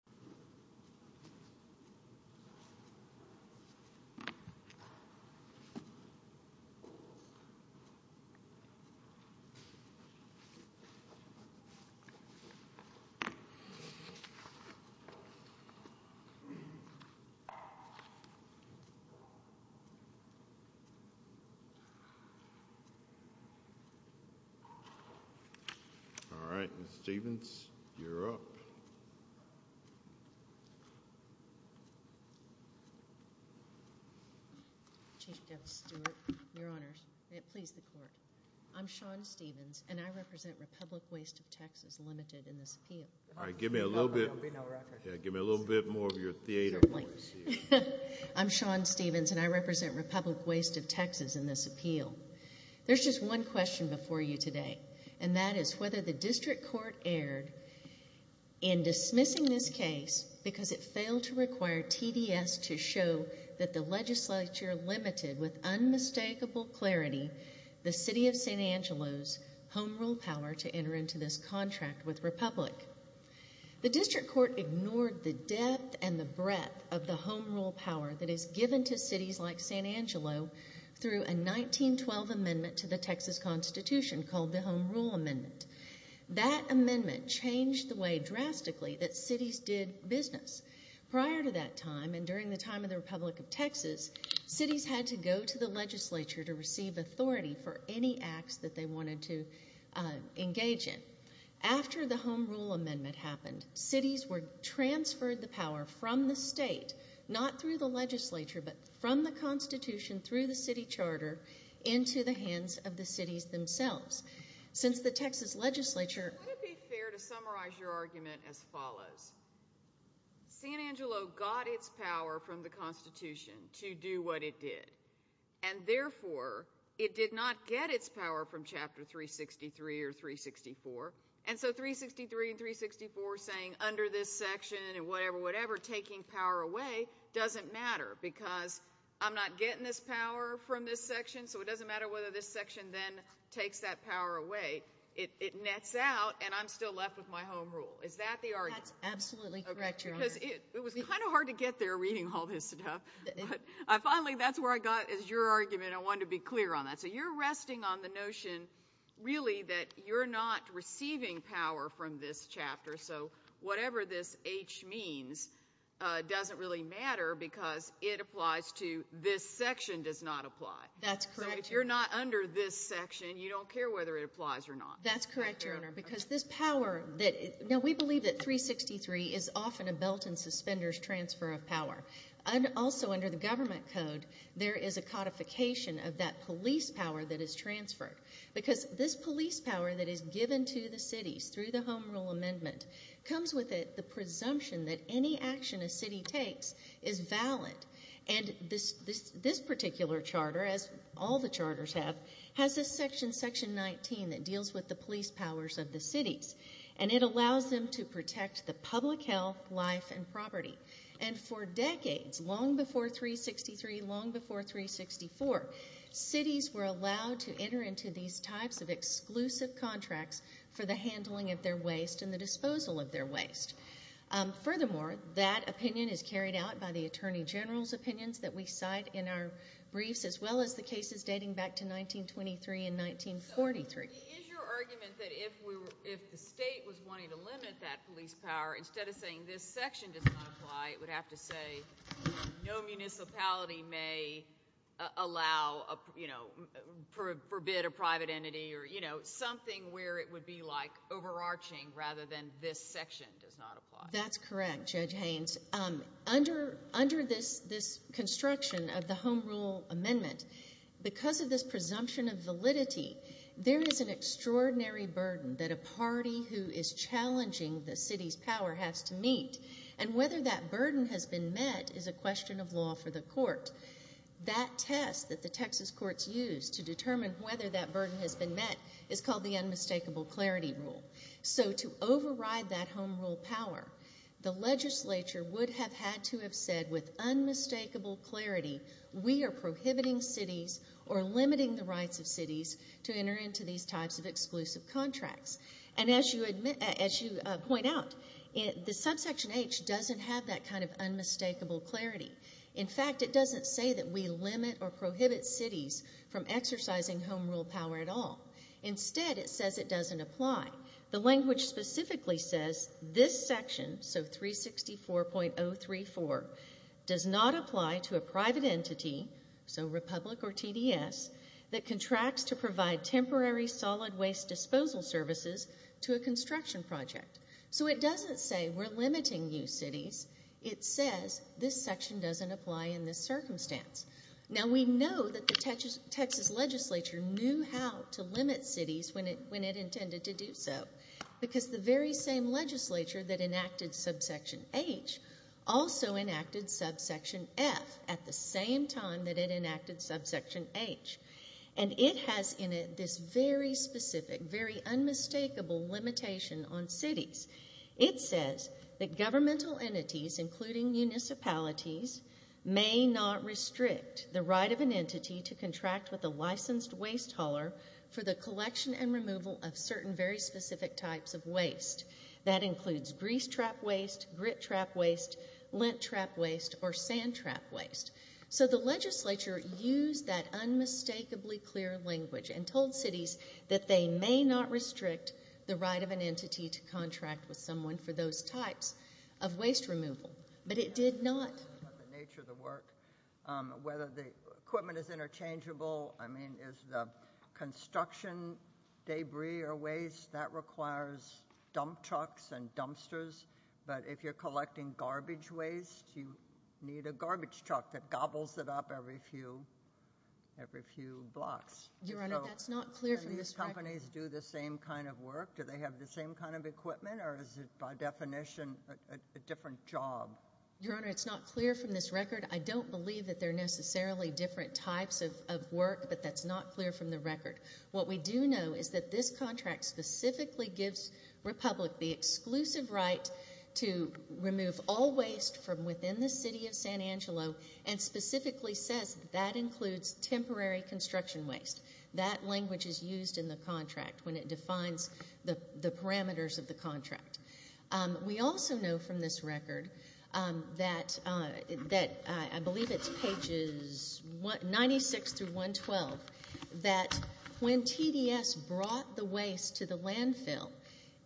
v. Texas Disposal Svc of TX, Ltd. I'm Shawn Stevens, and I represent Republic Waste of Texas in this appeal. There's just one question before you today, and that is whether the district court erred in dismissing this case because it failed to require TDS to show that the legislature limited, with unmistakable clarity, the City of San Angelo's home rule power to enter into this contract with Republic. The district court ignored the depth and the breadth of the home rule power that is given to cities like San Angelo through a 1912 amendment to the Texas Constitution called the Home Rule Amendment. That amendment changed the way drastically that cities did business. Prior to that time, and during the time of the Republic of Texas, cities had to go to the legislature to receive authority for any acts that they wanted to engage in. After the Home Rule Amendment happened, cities transferred the power from the state, not through the legislature, but from the Constitution through the city charter into the hands of the cities themselves. Since the Texas legislature... Would it be fair to summarize your argument as follows? San Angelo got its power from the Constitution to do what it did, and therefore, it did not get its power from Chapter 363 or 364, and so 363 and 364 saying under this section and whatever, whatever, taking power away doesn't matter because I'm not getting this power from this section, so it doesn't matter whether this section then takes that power away. It nets out, and I'm still left with my home rule. Is that the argument? That's absolutely correct, Your Honor. Because it was kind of hard to get there reading all this stuff. Finally, that's where I got your argument. I wanted to be clear on that. So you're resting on the notion really that you're not receiving power from this chapter, so whatever this H means doesn't really matter because it applies to this section does not apply. That's correct. So if you're not under this section, you don't care whether it applies or not. That's correct, Your Honor, because this power that... Now, we believe that 363 is often a belt and suspenders transfer of power. Also, under the government code, there is a codification of that police power that is transferred because this police power that is given to the cities through the home rule amendment comes with the presumption that any action a city takes is valid, and this particular charter, as all the charters have, has a section, section 19, that deals with the police powers of the cities, and it allows them to protect the public health, life, and property, and for decades, long before 363, long before 364, cities were allowed to enter into these types of exclusive contracts for the handling of their waste and the disposal of their waste. Furthermore, that opinion is carried out by the attorney general's opinions that we cite in our briefs, as well as the cases dating back to 1923 and 1943. Is your argument that if the state was wanting to limit that police power, instead of saying this section does not apply, it would have to say no municipality may allow, you know, forbid a private entity or, you know, something where it would be like overarching rather than this section does not apply? That's correct, Judge Haynes. Under this construction of the Home Rule Amendment, because of this presumption of validity, there is an extraordinary burden that a party who is challenging the city's power has to meet, and whether that burden has been met is a question of law for the court. That test that the Texas courts use to determine whether that burden has been met is called the Unmistakable Clarity Rule. So to override that home rule power, the legislature would have had to have said with unmistakable clarity we are prohibiting cities or limiting the rights of cities to enter into these types of exclusive contracts. And as you point out, the Subsection H doesn't have that kind of unmistakable clarity. In fact, it doesn't say that we limit or prohibit cities from exercising home rule power at all. Instead, it says it doesn't apply. The language specifically says this section, so 364.034, does not apply to a private entity, so Republic or TDS, that contracts to provide temporary solid waste disposal services to a construction project. So it doesn't say we're limiting you cities. It says this section doesn't apply in this circumstance. Now, we know that the Texas legislature knew how to limit cities when it intended to do so because the very same legislature that enacted Subsection H also enacted Subsection F at the same time that it enacted Subsection H. And it has in it this very specific, very unmistakable limitation on cities. It says that governmental entities, including municipalities, may not restrict the right of an entity to contract with a licensed waste hauler for the collection and removal of certain very specific types of waste. That includes grease trap waste, grit trap waste, lint trap waste, or sand trap waste. So the legislature used that unmistakably clear language and told cities that they may not restrict the right of an entity to contract with someone for those types of waste removal. But it did not. The nature of the work, whether the equipment is interchangeable, I mean, is the construction debris or waste, that requires dump trucks and dumpsters. But if you're collecting garbage waste, you need a garbage truck that gobbles it up every few blocks. Your Honor, that's not clear from this record. Do these companies do the same kind of work? Do they have the same kind of equipment, or is it by definition a different job? Your Honor, it's not clear from this record. I don't believe that they're necessarily different types of work, but that's not clear from the record. What we do know is that this contract specifically gives Republic the exclusive right to remove all waste from within the city of San Angelo and specifically says that that includes temporary construction waste. That language is used in the contract when it defines the parameters of the contract. We also know from this record that I believe it's pages 96 through 112, that when TDS brought the waste to the landfill,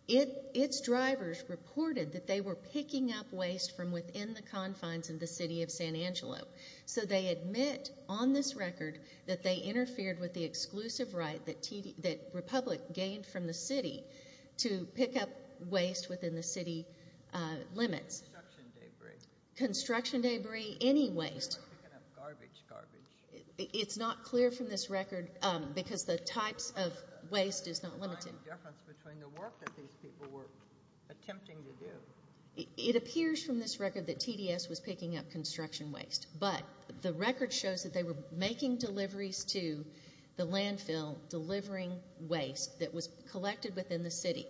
its drivers reported that they were picking up waste from within the confines of the city of San Angelo. So they admit on this record that they interfered with the exclusive right that Republic gained from the city to pick up waste within the city limits. Construction debris. Construction debris, any waste. Garbage, garbage. It's not clear from this record because the types of waste is not limited. What's the difference between the work that these people were attempting to do? It appears from this record that TDS was picking up construction waste, but the record shows that they were making deliveries to the landfill, delivering waste that was collected within the city.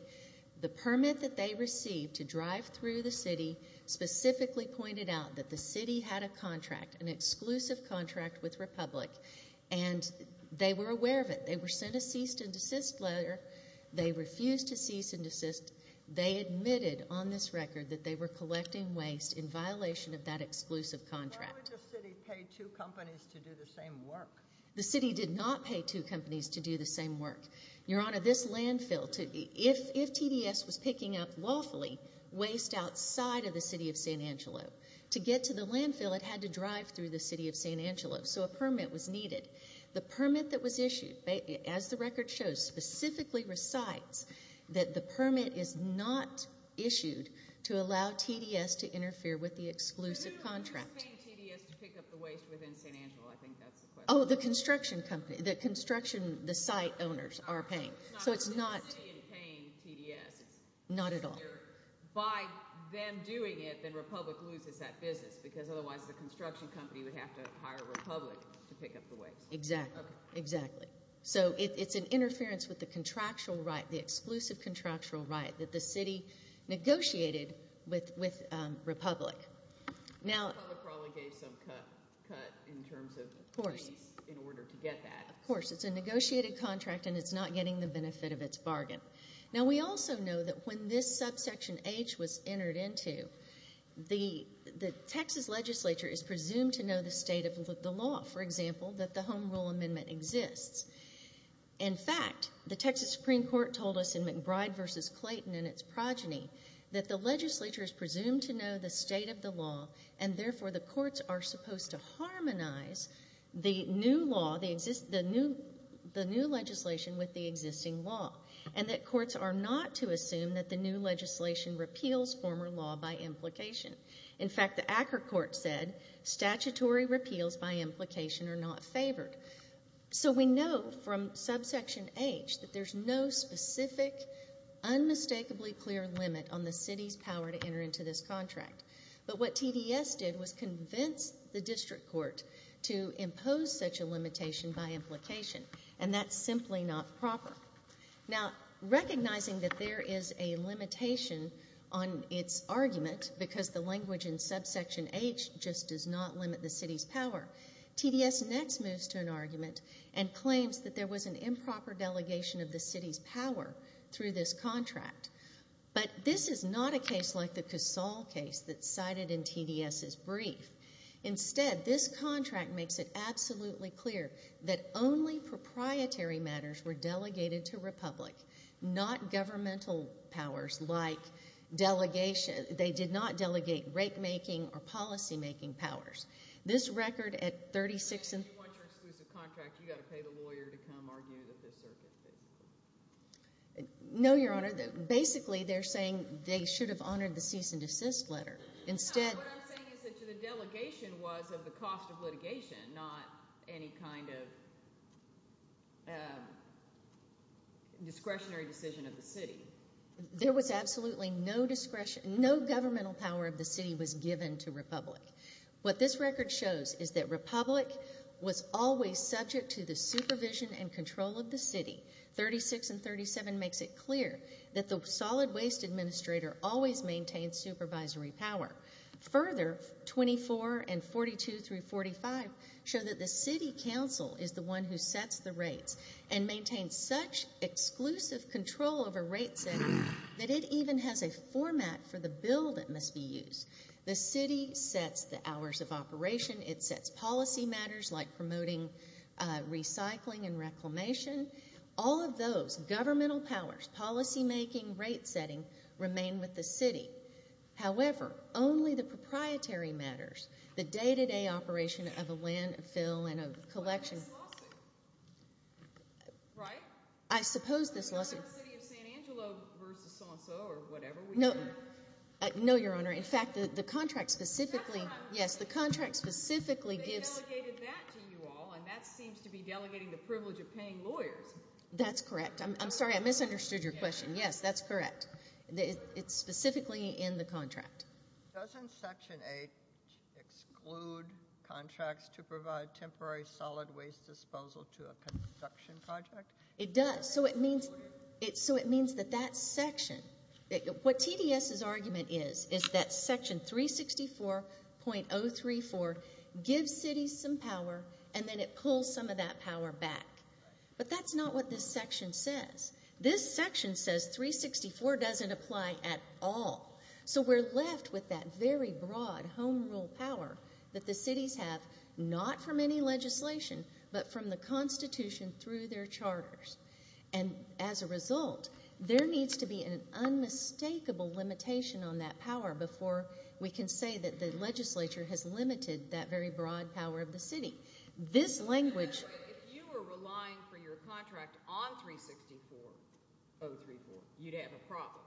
The permit that they received to drive through the city specifically pointed out that the city had a contract, an exclusive contract with Republic, and they were aware of it. They were sent a cease and desist letter. They refused to cease and desist. They admitted on this record that they were collecting waste in violation of that exclusive contract. Why would the city pay two companies to do the same work? The city did not pay two companies to do the same work. Your Honor, this landfill, if TDS was picking up lawfully waste outside of the city of San Angelo, to get to the landfill it had to drive through the city of San Angelo, so a permit was needed. The permit that was issued, as the record shows, specifically recites that the permit is not issued to allow TDS to interfere with the exclusive contract. Who is paying TDS to pick up the waste within San Angelo? I think that's the question. Oh, the construction company. The construction, the site owners are paying. It's not the city paying TDS. Not at all. By them doing it, then Republic loses that business, because otherwise the construction company would have to hire Republic to pick up the waste. Exactly. So it's an interference with the contractual right, the exclusive contractual right, that the city negotiated with Republic. Republic probably gave some cut in terms of fees in order to get that. Of course. It's a negotiated contract, and it's not getting the benefit of its bargain. Now, we also know that when this subsection H was entered into, the Texas legislature is presumed to know the state of the law, for example, that the Home Rule Amendment exists. In fact, the Texas Supreme Court told us in McBride v. Clayton and its progeny that the legislature is presumed to know the state of the law, and therefore the courts are supposed to harmonize the new legislation with the existing law, and that courts are not to assume that the new legislation repeals former law by implication. In fact, the Acker court said statutory repeals by implication are not favored. So we know from subsection H that there's no specific, unmistakably clear limit on the city's power to enter into this contract. But what TDS did was convince the district court to impose such a limitation by implication, and that's simply not proper. Now, recognizing that there is a limitation on its argument because the language in subsection H just does not limit the city's power, TDS next moves to an argument and claims that there was an improper delegation of the city's power through this contract. But this is not a case like the Casal case that's cited in TDS's brief. Instead, this contract makes it absolutely clear that only proprietary matters were delegated to Republic, not governmental powers like delegation. They did not delegate rate-making or policy-making powers. This record at 36 and— If you want your exclusive contract, you've got to pay the lawyer to come argue it at this circuit. No, Your Honor. Basically, they're saying they should have honored the cease and desist letter. Instead— No, what I'm saying is that the delegation was of the cost of litigation, not any kind of discretionary decision of the city. There was absolutely no discretionary— no governmental power of the city was given to Republic. What this record shows is that Republic was always subject to the supervision and control of the city. 36 and 37 makes it clear that the solid waste administrator always maintained supervisory power. Further, 24 and 42 through 45 show that the city council is the one who sets the rates and maintains such exclusive control over rate-setting that it even has a format for the bill that must be used. The city sets the hours of operation. It sets policy matters like promoting recycling and reclamation. All of those—governmental powers, policy-making, rate-setting—remain with the city. However, only the proprietary matters, the day-to-day operation of a landfill and a collection— But that's a lawsuit, right? I suppose this lawsuit— We're not in the city of San Angelo versus San Jose or whatever we are. No, Your Honor. In fact, the contract specifically— Yes, the contract specifically gives— They delegated that to you all, and that seems to be delegating the privilege of paying lawyers. That's correct. I'm sorry, I misunderstood your question. Yes, that's correct. It's specifically in the contract. Doesn't Section 8 exclude contracts to provide temporary solid waste disposal to a construction project? It does. So it means that that section— What TDS's argument is is that Section 364.034 gives cities some power, and then it pulls some of that power back. But that's not what this section says. This section says 364 doesn't apply at all. So we're left with that very broad home rule power that the cities have, not from any legislation, but from the Constitution through their charters. And as a result, there needs to be an unmistakable limitation on that power before we can say that the legislature has limited that very broad power of the city. This language— If you were relying for your contract on 364.034, you'd have a problem.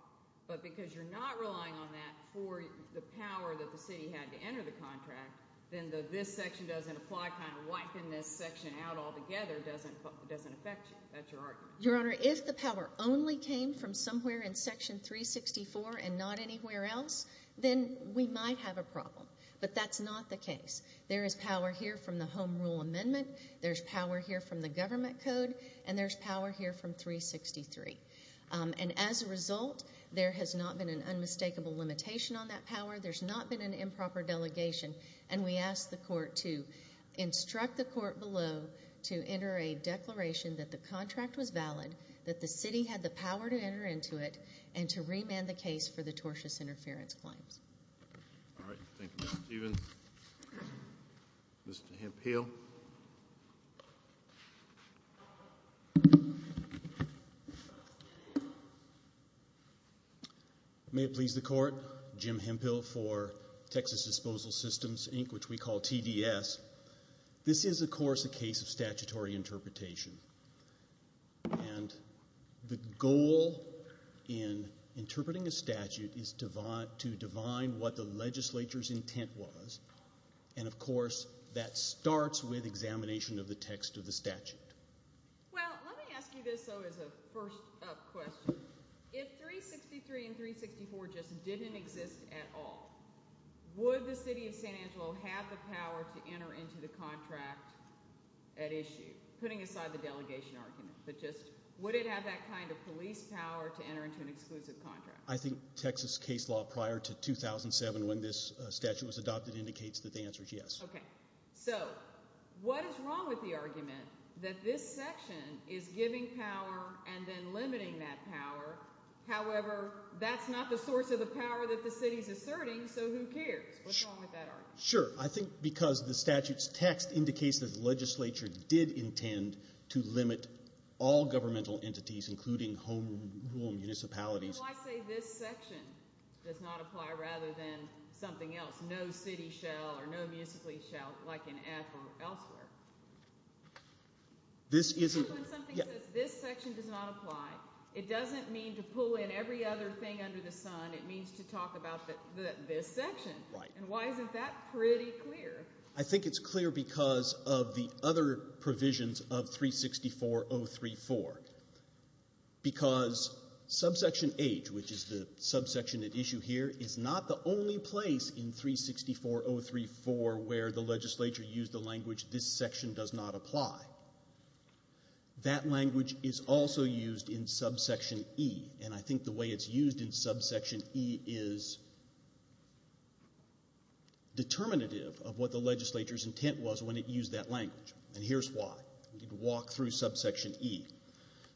But because you're not relying on that for the power that the city had to enter the contract, then this section doesn't apply, kind of wiping this section out altogether doesn't affect you. That's your argument. Your Honor, if the power only came from somewhere in Section 364 and not anywhere else, then we might have a problem. But that's not the case. There is power here from the home rule amendment. There's power here from the government code. And there's power here from 363. And as a result, there has not been an unmistakable limitation on that power. There's not been an improper delegation. And we ask the court to instruct the court below to enter a declaration that the contract was valid, that the city had the power to enter into it, and to remand the case for the tortious interference claims. All right. Thank you, Ms. Stevens. Mr. Hemphill. Thank you. May it please the court, Jim Hemphill for Texas Disposal Systems, Inc., which we call TDS. This is, of course, a case of statutory interpretation. And the goal in interpreting a statute is to divine what the legislature's intent was. And, of course, that starts with examination of the text of the statute. Well, let me ask you this, though, as a first-up question. If 363 and 364 just didn't exist at all, would the city of San Angelo have the power to enter into the contract at issue, putting aside the delegation argument, but just would it have that kind of police power to enter into an exclusive contract? I think Texas case law prior to 2007, when this statute was adopted, indicates that the answer is yes. Okay. So what is wrong with the argument that this section is giving power and then limiting that power, however that's not the source of the power that the city is asserting, so who cares? What's wrong with that argument? Sure. I think because the statute's text indicates that the legislature did intend to limit all governmental entities, including home rule municipalities. Why say this section does not apply rather than something else, no city shall or no municipality shall, like in F or elsewhere? This isn't – Because when something says this section does not apply, it doesn't mean to pull in every other thing under the sun. It means to talk about this section. Right. And why isn't that pretty clear? I think it's clear because of the other provisions of 364034, because subsection H, which is the subsection at issue here, is not the only place in 364034 where the legislature used the language this section does not apply. That language is also used in subsection E, and I think the way it's used in subsection E is determinative of what the legislature's intent was when it used that language, and here's why. We need to walk through subsection E.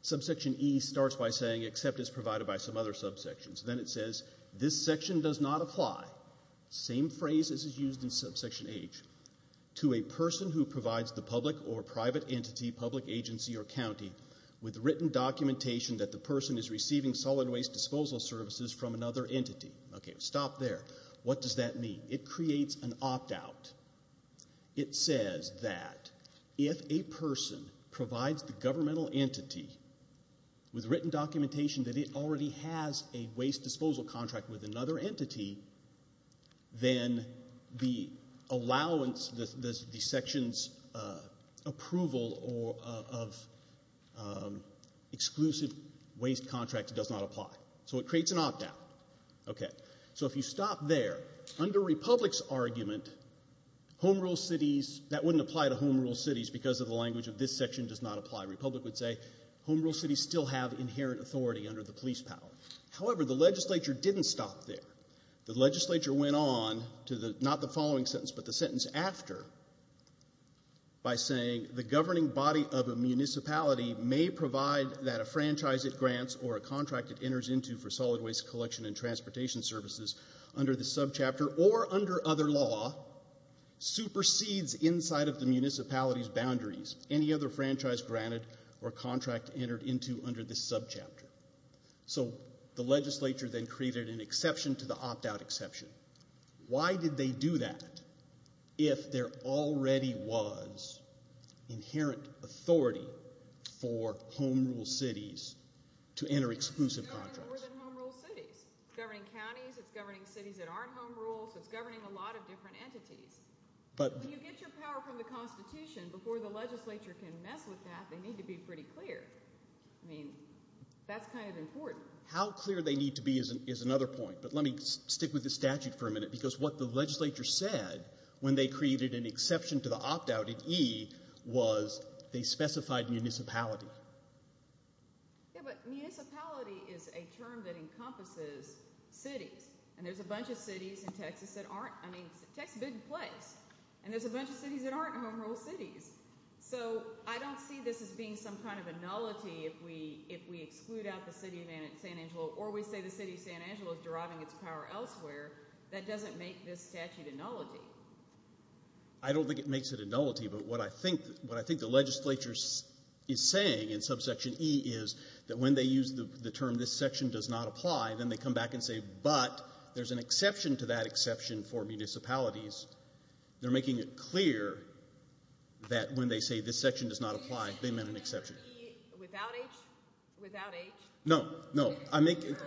Subsection E starts by saying except as provided by some other subsections. Then it says this section does not apply, same phrase as is used in subsection H, to a person who provides the public or private entity, public agency, or county with written documentation that the person is receiving solid waste disposal services from another entity. Okay, stop there. What does that mean? It creates an opt-out. It says that if a person provides the governmental entity with written documentation that it already has a waste disposal contract with another entity, then the allowance, the section's approval of exclusive waste contracts does not apply. So it creates an opt-out. Okay. So if you stop there, under Republic's argument, home rule cities, that wouldn't apply to home rule cities because of the language of this section does not apply. Republic would say home rule cities still have inherent authority under the police power. However, the legislature didn't stop there. The legislature went on to not the following sentence but the sentence after by saying the governing body of a municipality may provide that a franchise it grants or a contract it enters into for solid waste collection and transportation services under this subchapter or under other law supersedes inside of the municipality's boundaries any other franchise granted or contract entered into under this subchapter. So the legislature then created an exception to the opt-out exception. Why did they do that if there already was inherent authority for home rule cities to enter exclusive contracts? It's governing more than home rule cities. It's governing counties. It's governing cities that aren't home rules. It's governing a lot of different entities. When you get your power from the Constitution, before the legislature can mess with that, they need to be pretty clear. I mean, that's kind of important. How clear they need to be is another point, but let me stick with the statute for a minute because what the legislature said when they created an exception to the opt-out in E was they specified municipality. Yeah, but municipality is a term that encompasses cities, and there's a bunch of cities in Texas that aren't. I mean, Texas is a big place, and there's a bunch of cities that aren't home rule cities. So I don't see this as being some kind of a nullity if we exclude out the city of San Angelo or we say the city of San Angelo is deriving its power elsewhere. That doesn't make this statute a nullity. I don't think it makes it a nullity, but what I think the legislature is saying in subsection E is that when they use the term this section does not apply, then they come back and say, but there's an exception to that exception for municipalities. They're making it clear that when they say this section does not apply, they meant an exception. Without H? No, no. H is pretty clear.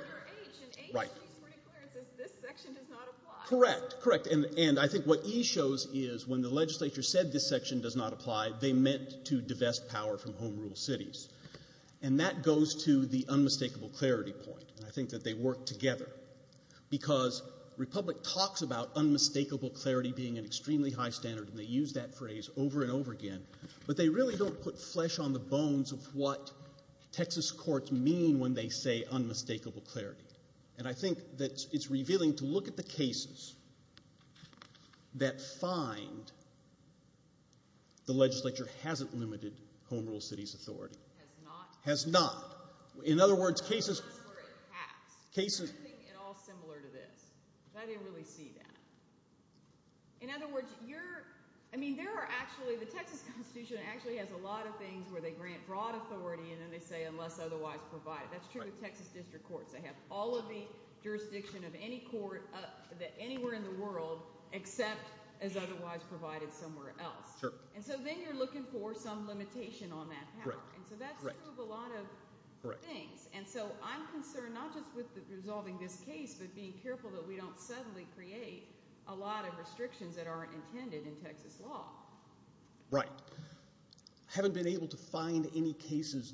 It says this section does not apply. Correct, correct. And I think what E shows is when the legislature said this section does not apply, they meant to divest power from home rule cities. And that goes to the unmistakable clarity point, and I think that they work together because Republic talks about unmistakable clarity being an extremely high standard, and they use that phrase over and over again, but they really don't put flesh on the bones of what Texas courts mean when they say unmistakable clarity. And I think that it's revealing to look at the cases that find the legislature hasn't limited home rule cities' authority. Has not? Has not. In other words, cases... That's where it packs. Cases... I didn't think at all similar to this, but I didn't really see that. In other words, you're, I mean, there are actually, the Texas Constitution actually has a lot of things where they grant broad authority and then they say unless otherwise provided. That's true with Texas district courts. They have all of the jurisdiction of any court anywhere in the world except as otherwise provided somewhere else. And so then you're looking for some limitation on that power. And so that's true of a lot of things. And so I'm concerned not just with resolving this case but being careful that we don't suddenly create a lot of restrictions that aren't intended in Texas law. Right. I haven't been able to find any cases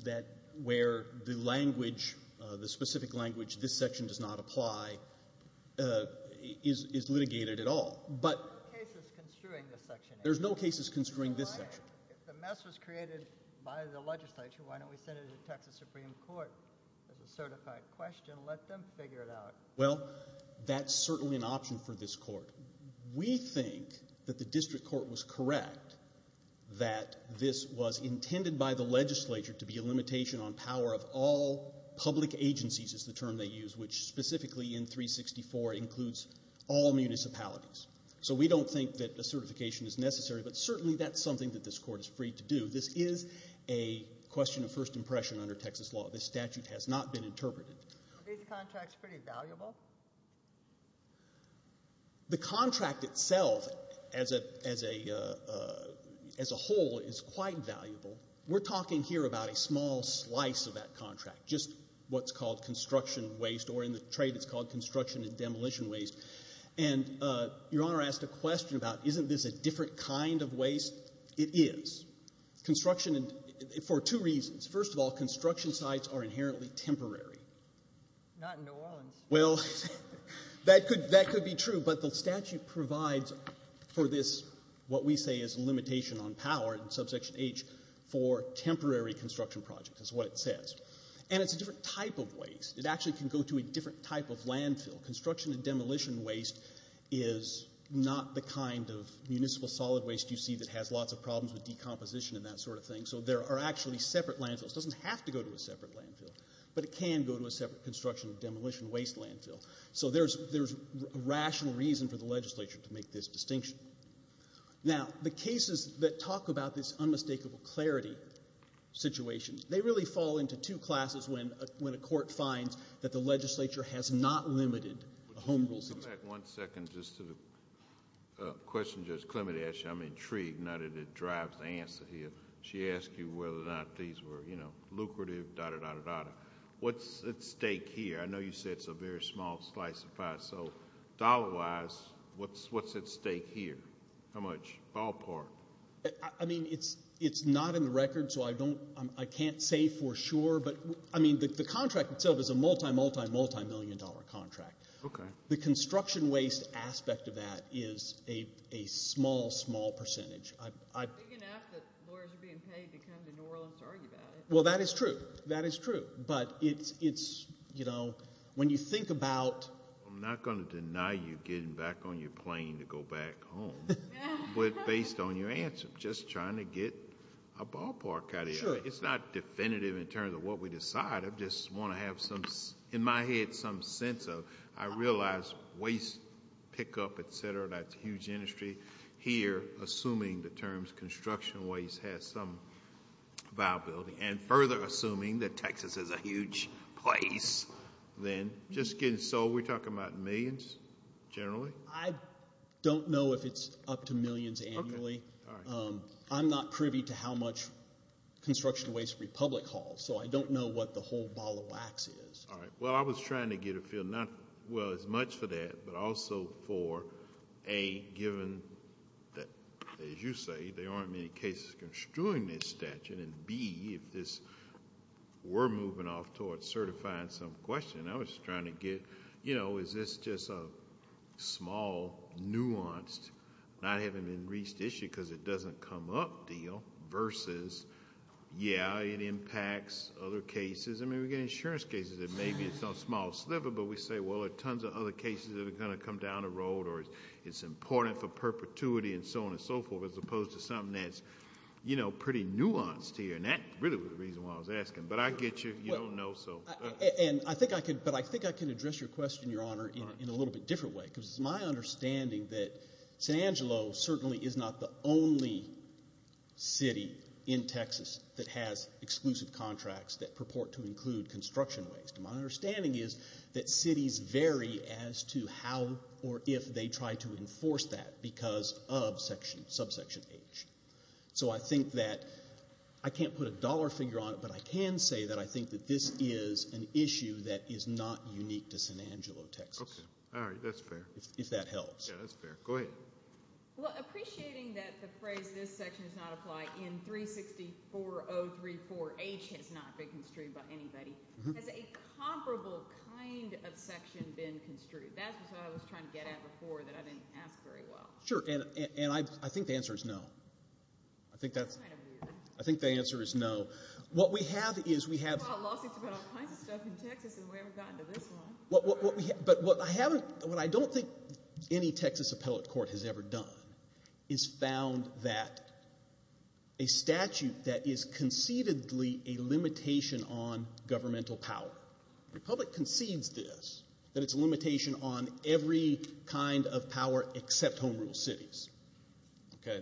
where the language, the specific language this section does not apply is litigated at all. There's no cases construing this section. There's no cases construing this section. If the mess was created by the legislature, why don't we send it to Texas Supreme Court as a certified question, let them figure it out. Well, that's certainly an option for this court. We think that the district court was correct that this was intended by the legislature to be a limitation on power of all public agencies is the term they use, which specifically in 364 includes all municipalities. So we don't think that a certification is necessary, but certainly that's something that this court is free to do. This is a question of first impression under Texas law. This statute has not been interpreted. Are these contracts pretty valuable? The contract itself as a whole is quite valuable. We're talking here about a small slice of that contract, just what's called construction waste, or in the trade it's called construction and demolition waste. And Your Honor asked a question about isn't this a different kind of waste? It is. For two reasons. First of all, construction sites are inherently temporary. Not in New Orleans. Well, that could be true, but the statute provides for this what we say is a limitation on power in Subsection H for temporary construction projects is what it says. And it's a different type of waste. It actually can go to a different type of landfill. Construction and demolition waste is not the kind of municipal solid waste you see that has lots of problems with decomposition and that sort of thing. So there are actually separate landfills. It doesn't have to go to a separate landfill, but it can go to a separate construction and demolition waste landfill. So there's rational reason for the legislature to make this distinction. Now, the cases that talk about this unmistakable clarity situation, they really fall into two classes when a court finds that the legislature has not limited a home rule system. Come back one second just to the question Judge Clement asked you. I'm intrigued, not that it drives the answer here. She asked you whether or not these were lucrative, da-da-da-da-da. What's at stake here? I know you said it's a very small slice of pie. So dollar-wise, what's at stake here? How much? Ballpark? I mean, it's not in the record, so I can't say for sure. But, I mean, the contract itself is a multi-multi-multi-million-dollar contract. The construction waste aspect of that is a small, small percentage. It's big enough that lawyers are being paid to come to New Orleans to argue about it. Well, that is true. That is true. But it's, you know, when you think about... I'm not going to deny you getting back on your plane to go back home. But based on your answer, just trying to get a ballpark out of here. Sure. It's not definitive in terms of what we decide. I just want to have some, in my head, some sense of I realize waste pickup, et cetera, that's a huge industry. Here, assuming the terms construction waste has some viability, and further assuming that Texas is a huge place, then just getting sold. We're talking about millions generally? I don't know if it's up to millions annually. Okay. All right. I'm not privy to how much construction waste we public haul. All right. Well, I was trying to get a feel, not as much for that, but also for, A, given that, as you say, there aren't many cases construing this statute, and B, if this, we're moving off toward certifying some question. I was trying to get, you know, is this just a small, nuanced, not having been reached issue because it doesn't come up deal, versus, yeah, it impacts other cases. I mean, we get insurance cases that maybe it's on a small sliver, but we say, well, there are tons of other cases that are going to come down the road or it's important for perpetuity and so on and so forth, as opposed to something that's, you know, pretty nuanced here. And that really was the reason why I was asking. But I get you. You don't know, so. And I think I can address your question, Your Honor, in a little bit different way because it's my understanding that San Angelo certainly is not the only city in Texas that has exclusive contracts that purport to include construction waste. My understanding is that cities vary as to how or if they try to enforce that because of subsection H. So I think that I can't put a dollar figure on it, but I can say that I think that this is an issue that is not unique to San Angelo, Texas. All right. That's fair. If that helps. Yeah, that's fair. Go ahead. Well, appreciating that the phrase this section does not apply in 360-4034H has not been construed by anybody, has a comparable kind of section been construed? That's what I was trying to get at before that I didn't ask very well. Sure. And I think the answer is no. I think that's kind of weird. I think the answer is no. What we have is we have law suits about all kinds of stuff in Texas and we haven't gotten to this one. But what I don't think any Texas appellate court has ever done is found that a statute that is concededly a limitation on governmental power, the public concedes this, that it's a limitation on every kind of power except home rule cities.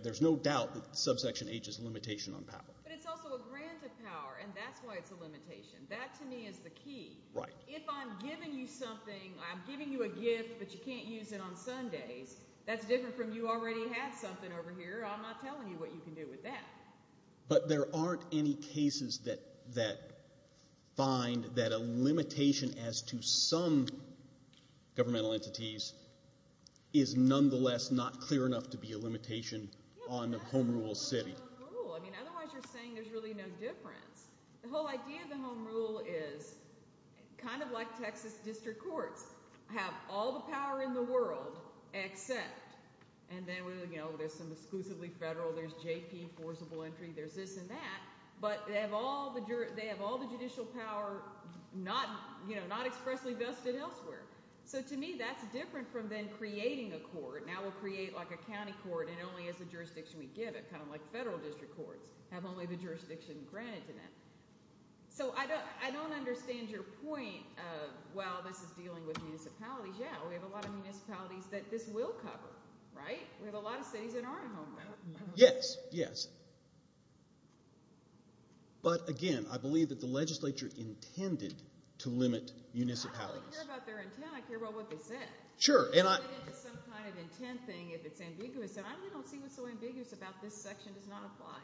There's no doubt that subsection H is a limitation on power. But it's also a grant of power, and that's why it's a limitation. That, to me, is the key. Right. If I'm giving you something, I'm giving you a gift, but you can't use it on Sundays, that's different from you already have something over here. I'm not telling you what you can do with that. But there aren't any cases that find that a limitation as to some governmental entities is nonetheless not clear enough to be a limitation on the home rule city. I mean, otherwise you're saying there's really no difference. The whole idea of the home rule is kind of like Texas district courts have all the power in the world except, and then there's some exclusively federal, there's JP, forcible entry, there's this and that, but they have all the judicial power not expressly vested elsewhere. So to me that's different from then creating a court. Now we'll create like a county court and only as a jurisdiction we give it, kind of like federal district courts have only the jurisdiction granted to them. So I don't understand your point of, well, this is dealing with municipalities. Yeah, we have a lot of municipalities that this will cover, right? We have a lot of cities that aren't home ruled. Yes, yes. But, again, I believe that the legislature intended to limit municipalities. I don't care about their intent. I care about what they said. Sure. It's some kind of intent thing if it's ambiguous, and I really don't see what's so ambiguous about this section does not apply.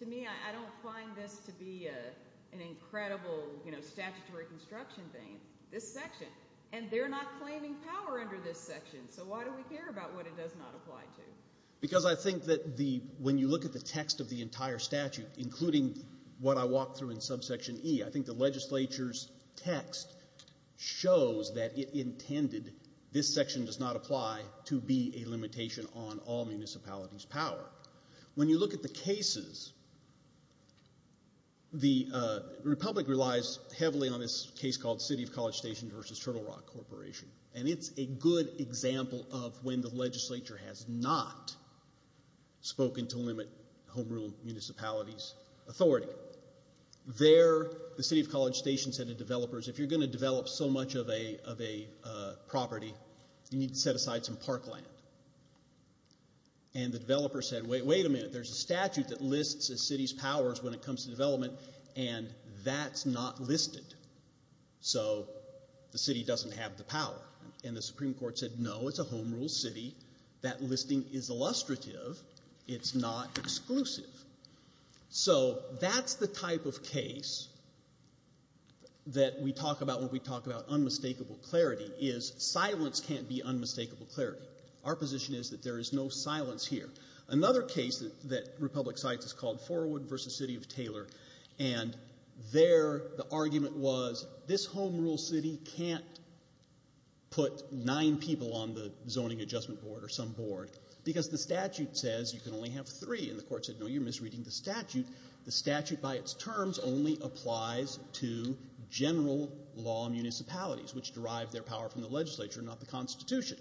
To me, I don't find this to be an incredible statutory construction thing, this section, and they're not claiming power under this section, so why do we care about what it does not apply to? Because I think that when you look at the text of the entire statute, including what I walked through in subsection E, I think the legislature's text shows that it intended this section does not apply to be a limitation on all municipalities' power. When you look at the cases, the republic relies heavily on this case called City of College Station versus Turtle Rock Corporation, and it's a good example of when the legislature has not spoken to limit home rule municipalities' authority. There, the City of College Station said to developers, if you're going to develop so much of a property, you need to set aside some parkland. And the developer said, wait a minute, there's a statute that lists a city's powers when it comes to development, and that's not listed, so the city doesn't have the power. And the Supreme Court said, no, it's a home rule city. That listing is illustrative. It's not exclusive. So that's the type of case that we talk about when we talk about unmistakable clarity is silence can't be unmistakable clarity. Our position is that there is no silence here. Another case that republic cites is called Forwood versus City of Taylor, and there the argument was this home rule city can't put nine people on the zoning adjustment board or some board because the statute says you can only have three, and the court said, no, you're misreading the statute. The statute by its terms only applies to general law municipalities which derive their power from the legislature, not the Constitution.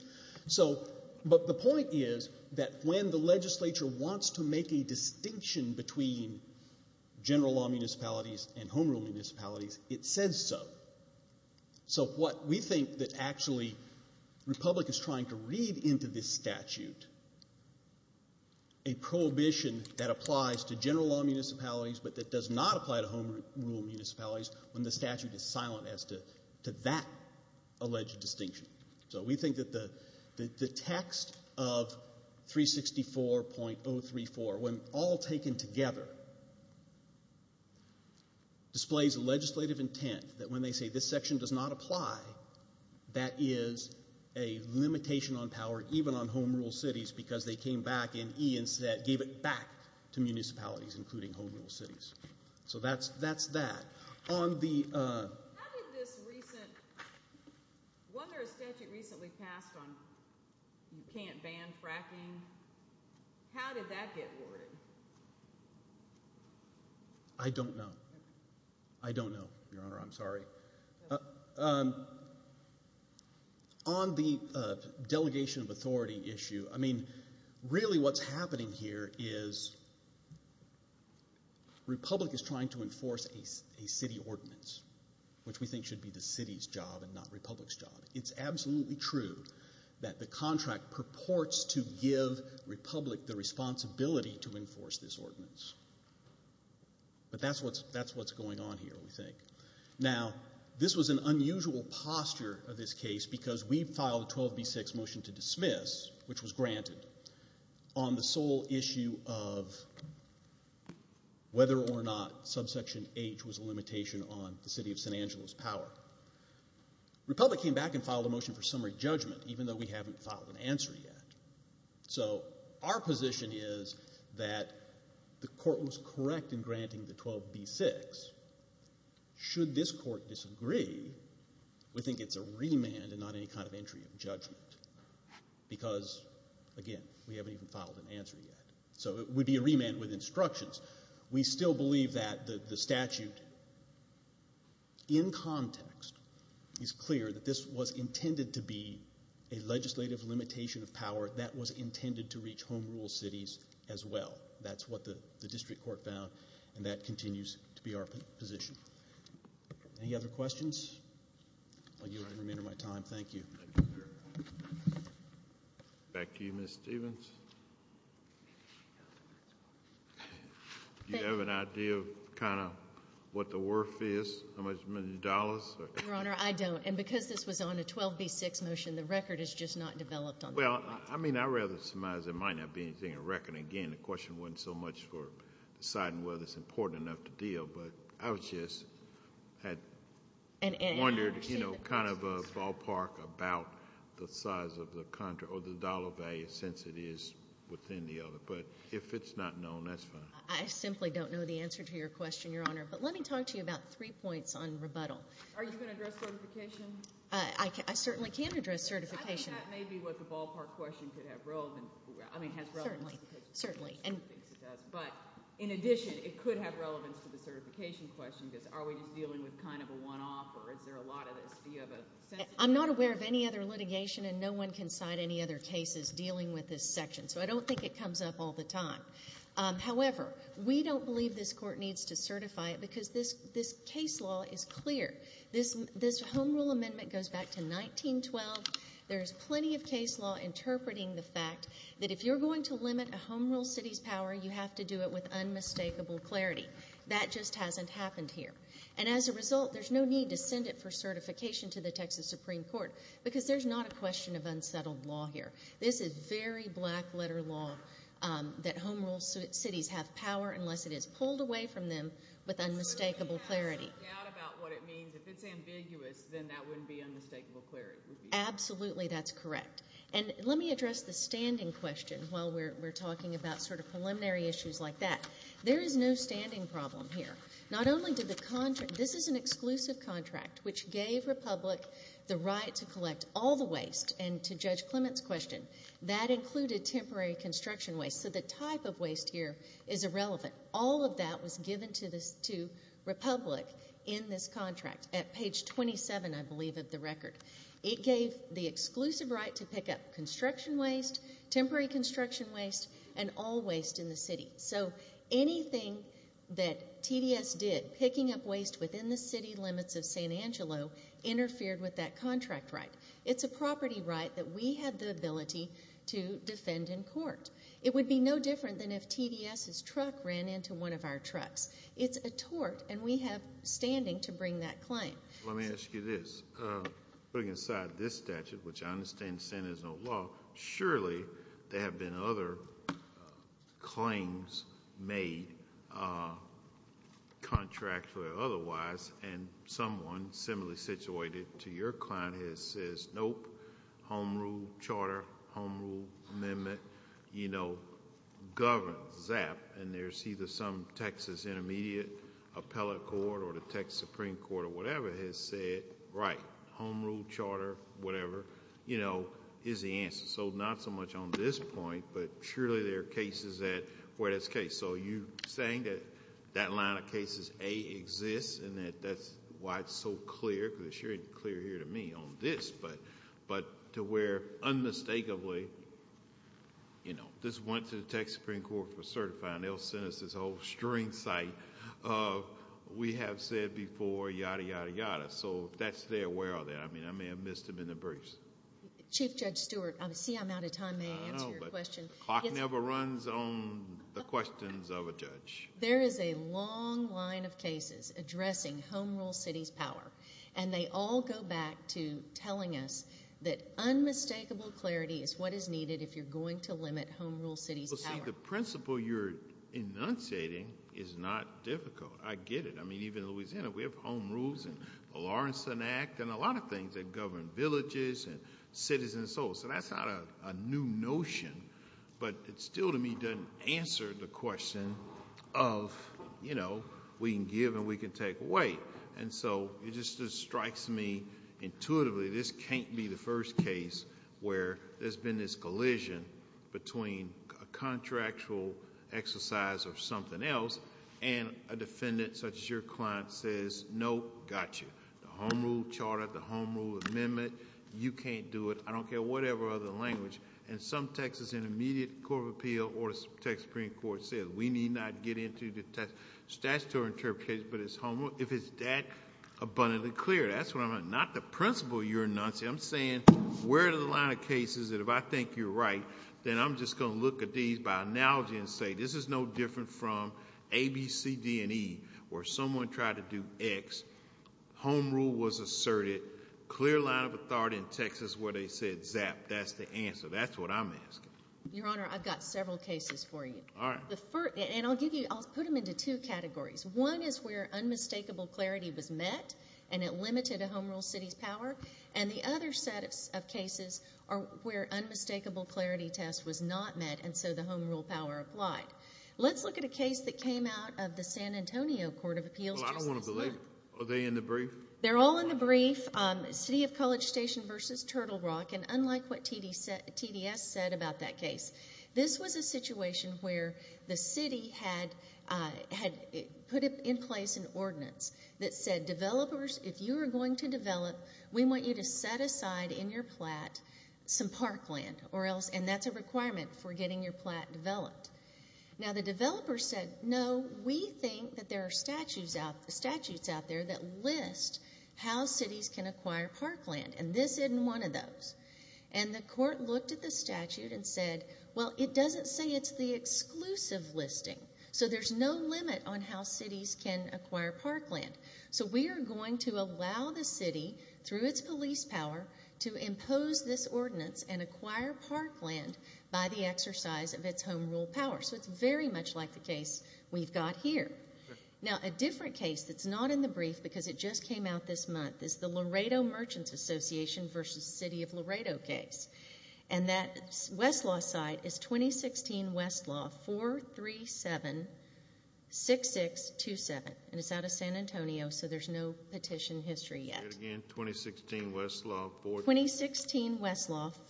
But the point is that when the legislature wants to make a distinction between general law municipalities and home rule municipalities, it says so. So what we think that actually republic is trying to read into this statute, a prohibition that applies to general law municipalities but that does not apply to home rule municipalities when the statute is silent as to that alleged distinction. So we think that the text of 364.034, when all taken together, displays legislative intent that when they say this section does not apply, that is a limitation on power even on home rule cities because they came back and gave it back to municipalities including home rule cities. So that's that. How did this recent, whether a statute recently passed on can't ban fracking, how did that get awarded? I don't know. I don't know, Your Honor. I'm sorry. On the delegation of authority issue, I mean, really what's happening here is republic is trying to enforce a city ordinance, which we think should be the city's job and not republic's job. It's absolutely true that the contract purports to give republic the responsibility to enforce this ordinance. But that's what's going on here, we think. Now, this was an unusual posture of this case because we filed a 12B6 motion to dismiss, which was granted, on the sole issue of whether or not subsection H was a limitation on the city of San Angelo's power. Republic came back and filed a motion for summary judgment, even though we haven't filed an answer yet. So our position is that the court was correct in granting the 12B6. Should this court disagree, we think it's a remand and not any kind of entry of judgment because, again, we haven't even filed an answer yet. So it would be a remand with instructions. We still believe that the statute, in context, is clear that this was intended to be a legislative limitation of power that was intended to reach home rule cities as well. That's what the district court found, and that continues to be our position. Any other questions? I'll give you a minute of my time. Thank you. Back to you, Ms. Stevens. Do you have an idea of kind of what the worth is, how much, how many dollars? Your Honor, I don't, and because this was on a 12B6 motion, the record is just not developed on that. Well, I mean, I'd rather surmise there might not be anything on record. Again, the question wasn't so much for deciding whether it's important enough to deal, but I was just wondering, you know, kind of a ballpark about the size of the dollar value since it is within the other. But if it's not known, that's fine. I simply don't know the answer to your question, Your Honor. But let me talk to you about three points on rebuttal. Are you going to address certification? I certainly can address certification. I think that may be what the ballpark question could have relevance to. Certainly, certainly. But in addition, it could have relevance to the certification question because are we just dealing with kind of a one-off, or is there a lot of this? I'm not aware of any other litigation, and no one can cite any other cases dealing with this section, so I don't think it comes up all the time. However, we don't believe this Court needs to certify it because this case law is clear. This Home Rule amendment goes back to 1912. There is plenty of case law interpreting the fact that if you're going to limit a Home Rule city's power, you have to do it with unmistakable clarity. That just hasn't happened here. And as a result, there's no need to send it for certification to the Texas Supreme Court because there's not a question of unsettled law here. This is very black-letter law that Home Rule cities have power unless it is pulled away from them with unmistakable clarity. So there's no doubt about what it means. If it's ambiguous, then that wouldn't be unmistakable clarity. Absolutely, that's correct. And let me address the standing question while we're talking about sort of preliminary issues like that. There is no standing problem here. Not only did the contract – this is an exclusive contract, which gave Republic the right to collect all the waste, and to Judge Clement's question, that included temporary construction waste. So the type of waste here is irrelevant. All of that was given to Republic in this contract at page 27, I believe, of the record. It gave the exclusive right to pick up construction waste, temporary construction waste, and all waste in the city. So anything that TDS did, picking up waste within the city limits of San Angelo, interfered with that contract right. It's a property right that we had the ability to defend in court. It would be no different than if TDS's truck ran into one of our trucks. It's a tort, and we have standing to bring that claim. Let me ask you this. Putting aside this statute, which I understand the Senate has no law, surely there have been other claims made contractually or otherwise, and someone similarly situated to your client has said, nope, Home Rule Charter, Home Rule Amendment, you know, governs that. And there's either some Texas Intermediate Appellate Court or the Texas Supreme Court or whatever has said, right, Home Rule Charter, whatever, you know, is the answer. So not so much on this point, but surely there are cases where that's the case. So you're saying that that line of cases, A, exists, and that's why it's so clear because it's very clear here to me on this, but to where unmistakably, you know, this went to the Texas Supreme Court for certifying. They'll send us this whole string site of we have said before, yada, yada, yada. So that's there. Where are they? I mean, I may have missed them in the briefs. Chief Judge Stewart, I see I'm out of time. May I answer your question? I know, but the clock never runs on the questions of a judge. There is a long line of cases addressing Home Rule City's power, and they all go back to telling us that unmistakable clarity is what is needed if you're going to limit Home Rule City's power. Well, see, the principle you're enunciating is not difficult. I get it. I mean, even in Louisiana we have Home Rules and the Lawrenson Act and a lot of things that govern villages and cities and so forth. So that's not a new notion, but it still to me doesn't answer the question of, you know, we can give and we can take away. And so it just strikes me intuitively this can't be the first case where there's been this collision between a contractual exercise of something else and a defendant such as your client says, no, got you, the Home Rule Charter, the Home Rule Amendment, you can't do it, I don't care, whatever other language. And some Texas Intermediate Court of Appeal or the Texas Supreme Court said, we need not get into the statutory interpretation, but it's Home Rule. If it's that abundantly clear, that's what I'm asking. Not the principle you're enunciating. I'm saying where are the line of cases that if I think you're right, then I'm just going to look at these by analogy and say this is no different from A, B, C, D, and E where someone tried to do X, Home Rule was asserted, clear line of authority in Texas where they said zap, that's the answer. That's what I'm asking. Your Honor, I've got several cases for you. All right. And I'll put them into two categories. One is where unmistakable clarity was met and it limited a Home Rule city's power, and the other set of cases are where unmistakable clarity test was not met and so the Home Rule power applied. Let's look at a case that came out of the San Antonio Court of Appeals. Well, I don't want to believe it. Are they in the brief? They're all in the brief, City of College Station v. Turtle Rock, and unlike what TDS said about that case, this was a situation where the city had put in place an ordinance that said, developers, if you are going to develop, we want you to set aside in your plat some parkland and that's a requirement for getting your plat developed. Now, the developer said, no, we think that there are statutes out there that list how cities can acquire parkland, and this isn't one of those. And the court looked at the statute and said, well, it doesn't say it's the exclusive listing, so there's no limit on how cities can acquire parkland. So we are going to allow the city, through its police power, to impose this ordinance and acquire parkland by the exercise of its Home Rule power. So it's very much like the case we've got here. Now, a different case that's not in the brief because it just came out this month is the Laredo Merchants Association v. City of Laredo case. And that Westlaw side is 2016 Westlaw 437-6627, and it's out of San Antonio, so there's no petition history yet. Again, 2016 Westlaw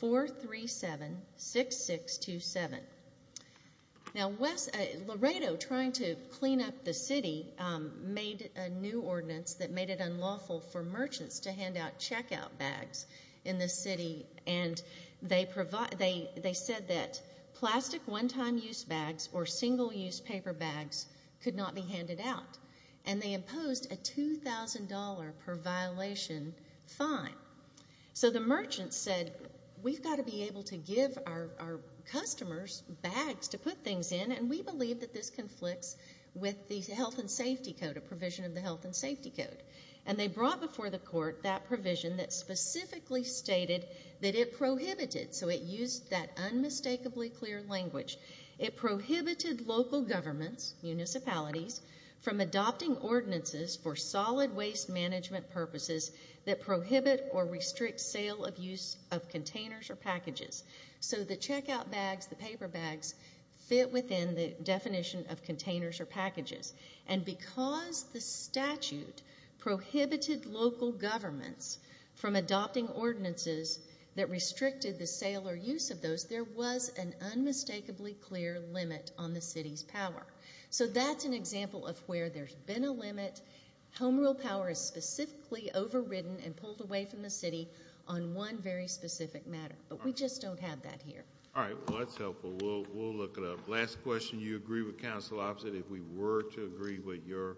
437-6627. Now, Laredo, trying to clean up the city, made a new ordinance that made it unlawful for merchants to hand out checkout bags in the city, and they said that plastic one-time-use bags or single-use paper bags could not be handed out. And they imposed a $2,000 per violation fine. So the merchants said, we've got to be able to give our customers bags to put things in, and we believe that this conflicts with the Health and Safety Code, a provision of the Health and Safety Code. And they brought before the court that provision that specifically stated that it prohibited, so it used that unmistakably clear language. It prohibited local governments, municipalities, from adopting ordinances for solid waste management purposes that prohibit or restrict sale of use of containers or packages. So the checkout bags, the paper bags, fit within the definition of containers or packages. And because the statute prohibited local governments from adopting ordinances that restricted the sale or use of those, there was an unmistakably clear limit on the city's power. So that's an example of where there's been a limit. Home rule power is specifically overridden and pulled away from the city on one very specific matter. But we just don't have that here. All right. Well, that's helpful. We'll look it up. Last question. You agree with Council Opposite? If we were to agree with your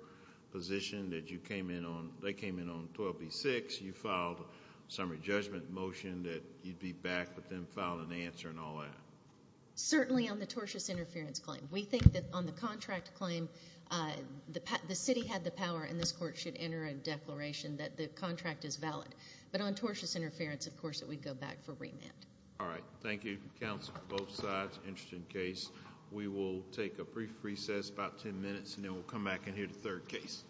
position that you came in on, they came in on 12B-6, you filed a summary judgment motion that you'd be back, but then filed an answer and all that? Certainly on the tortious interference claim. We think that on the contract claim, the city had the power, and this court should enter a declaration that the contract is valid. But on tortious interference, of course, that we'd go back for remand. All right. Thank you, counsel, both sides. Interesting case. We will take a brief recess, about ten minutes, and then we'll come back and hear the third case.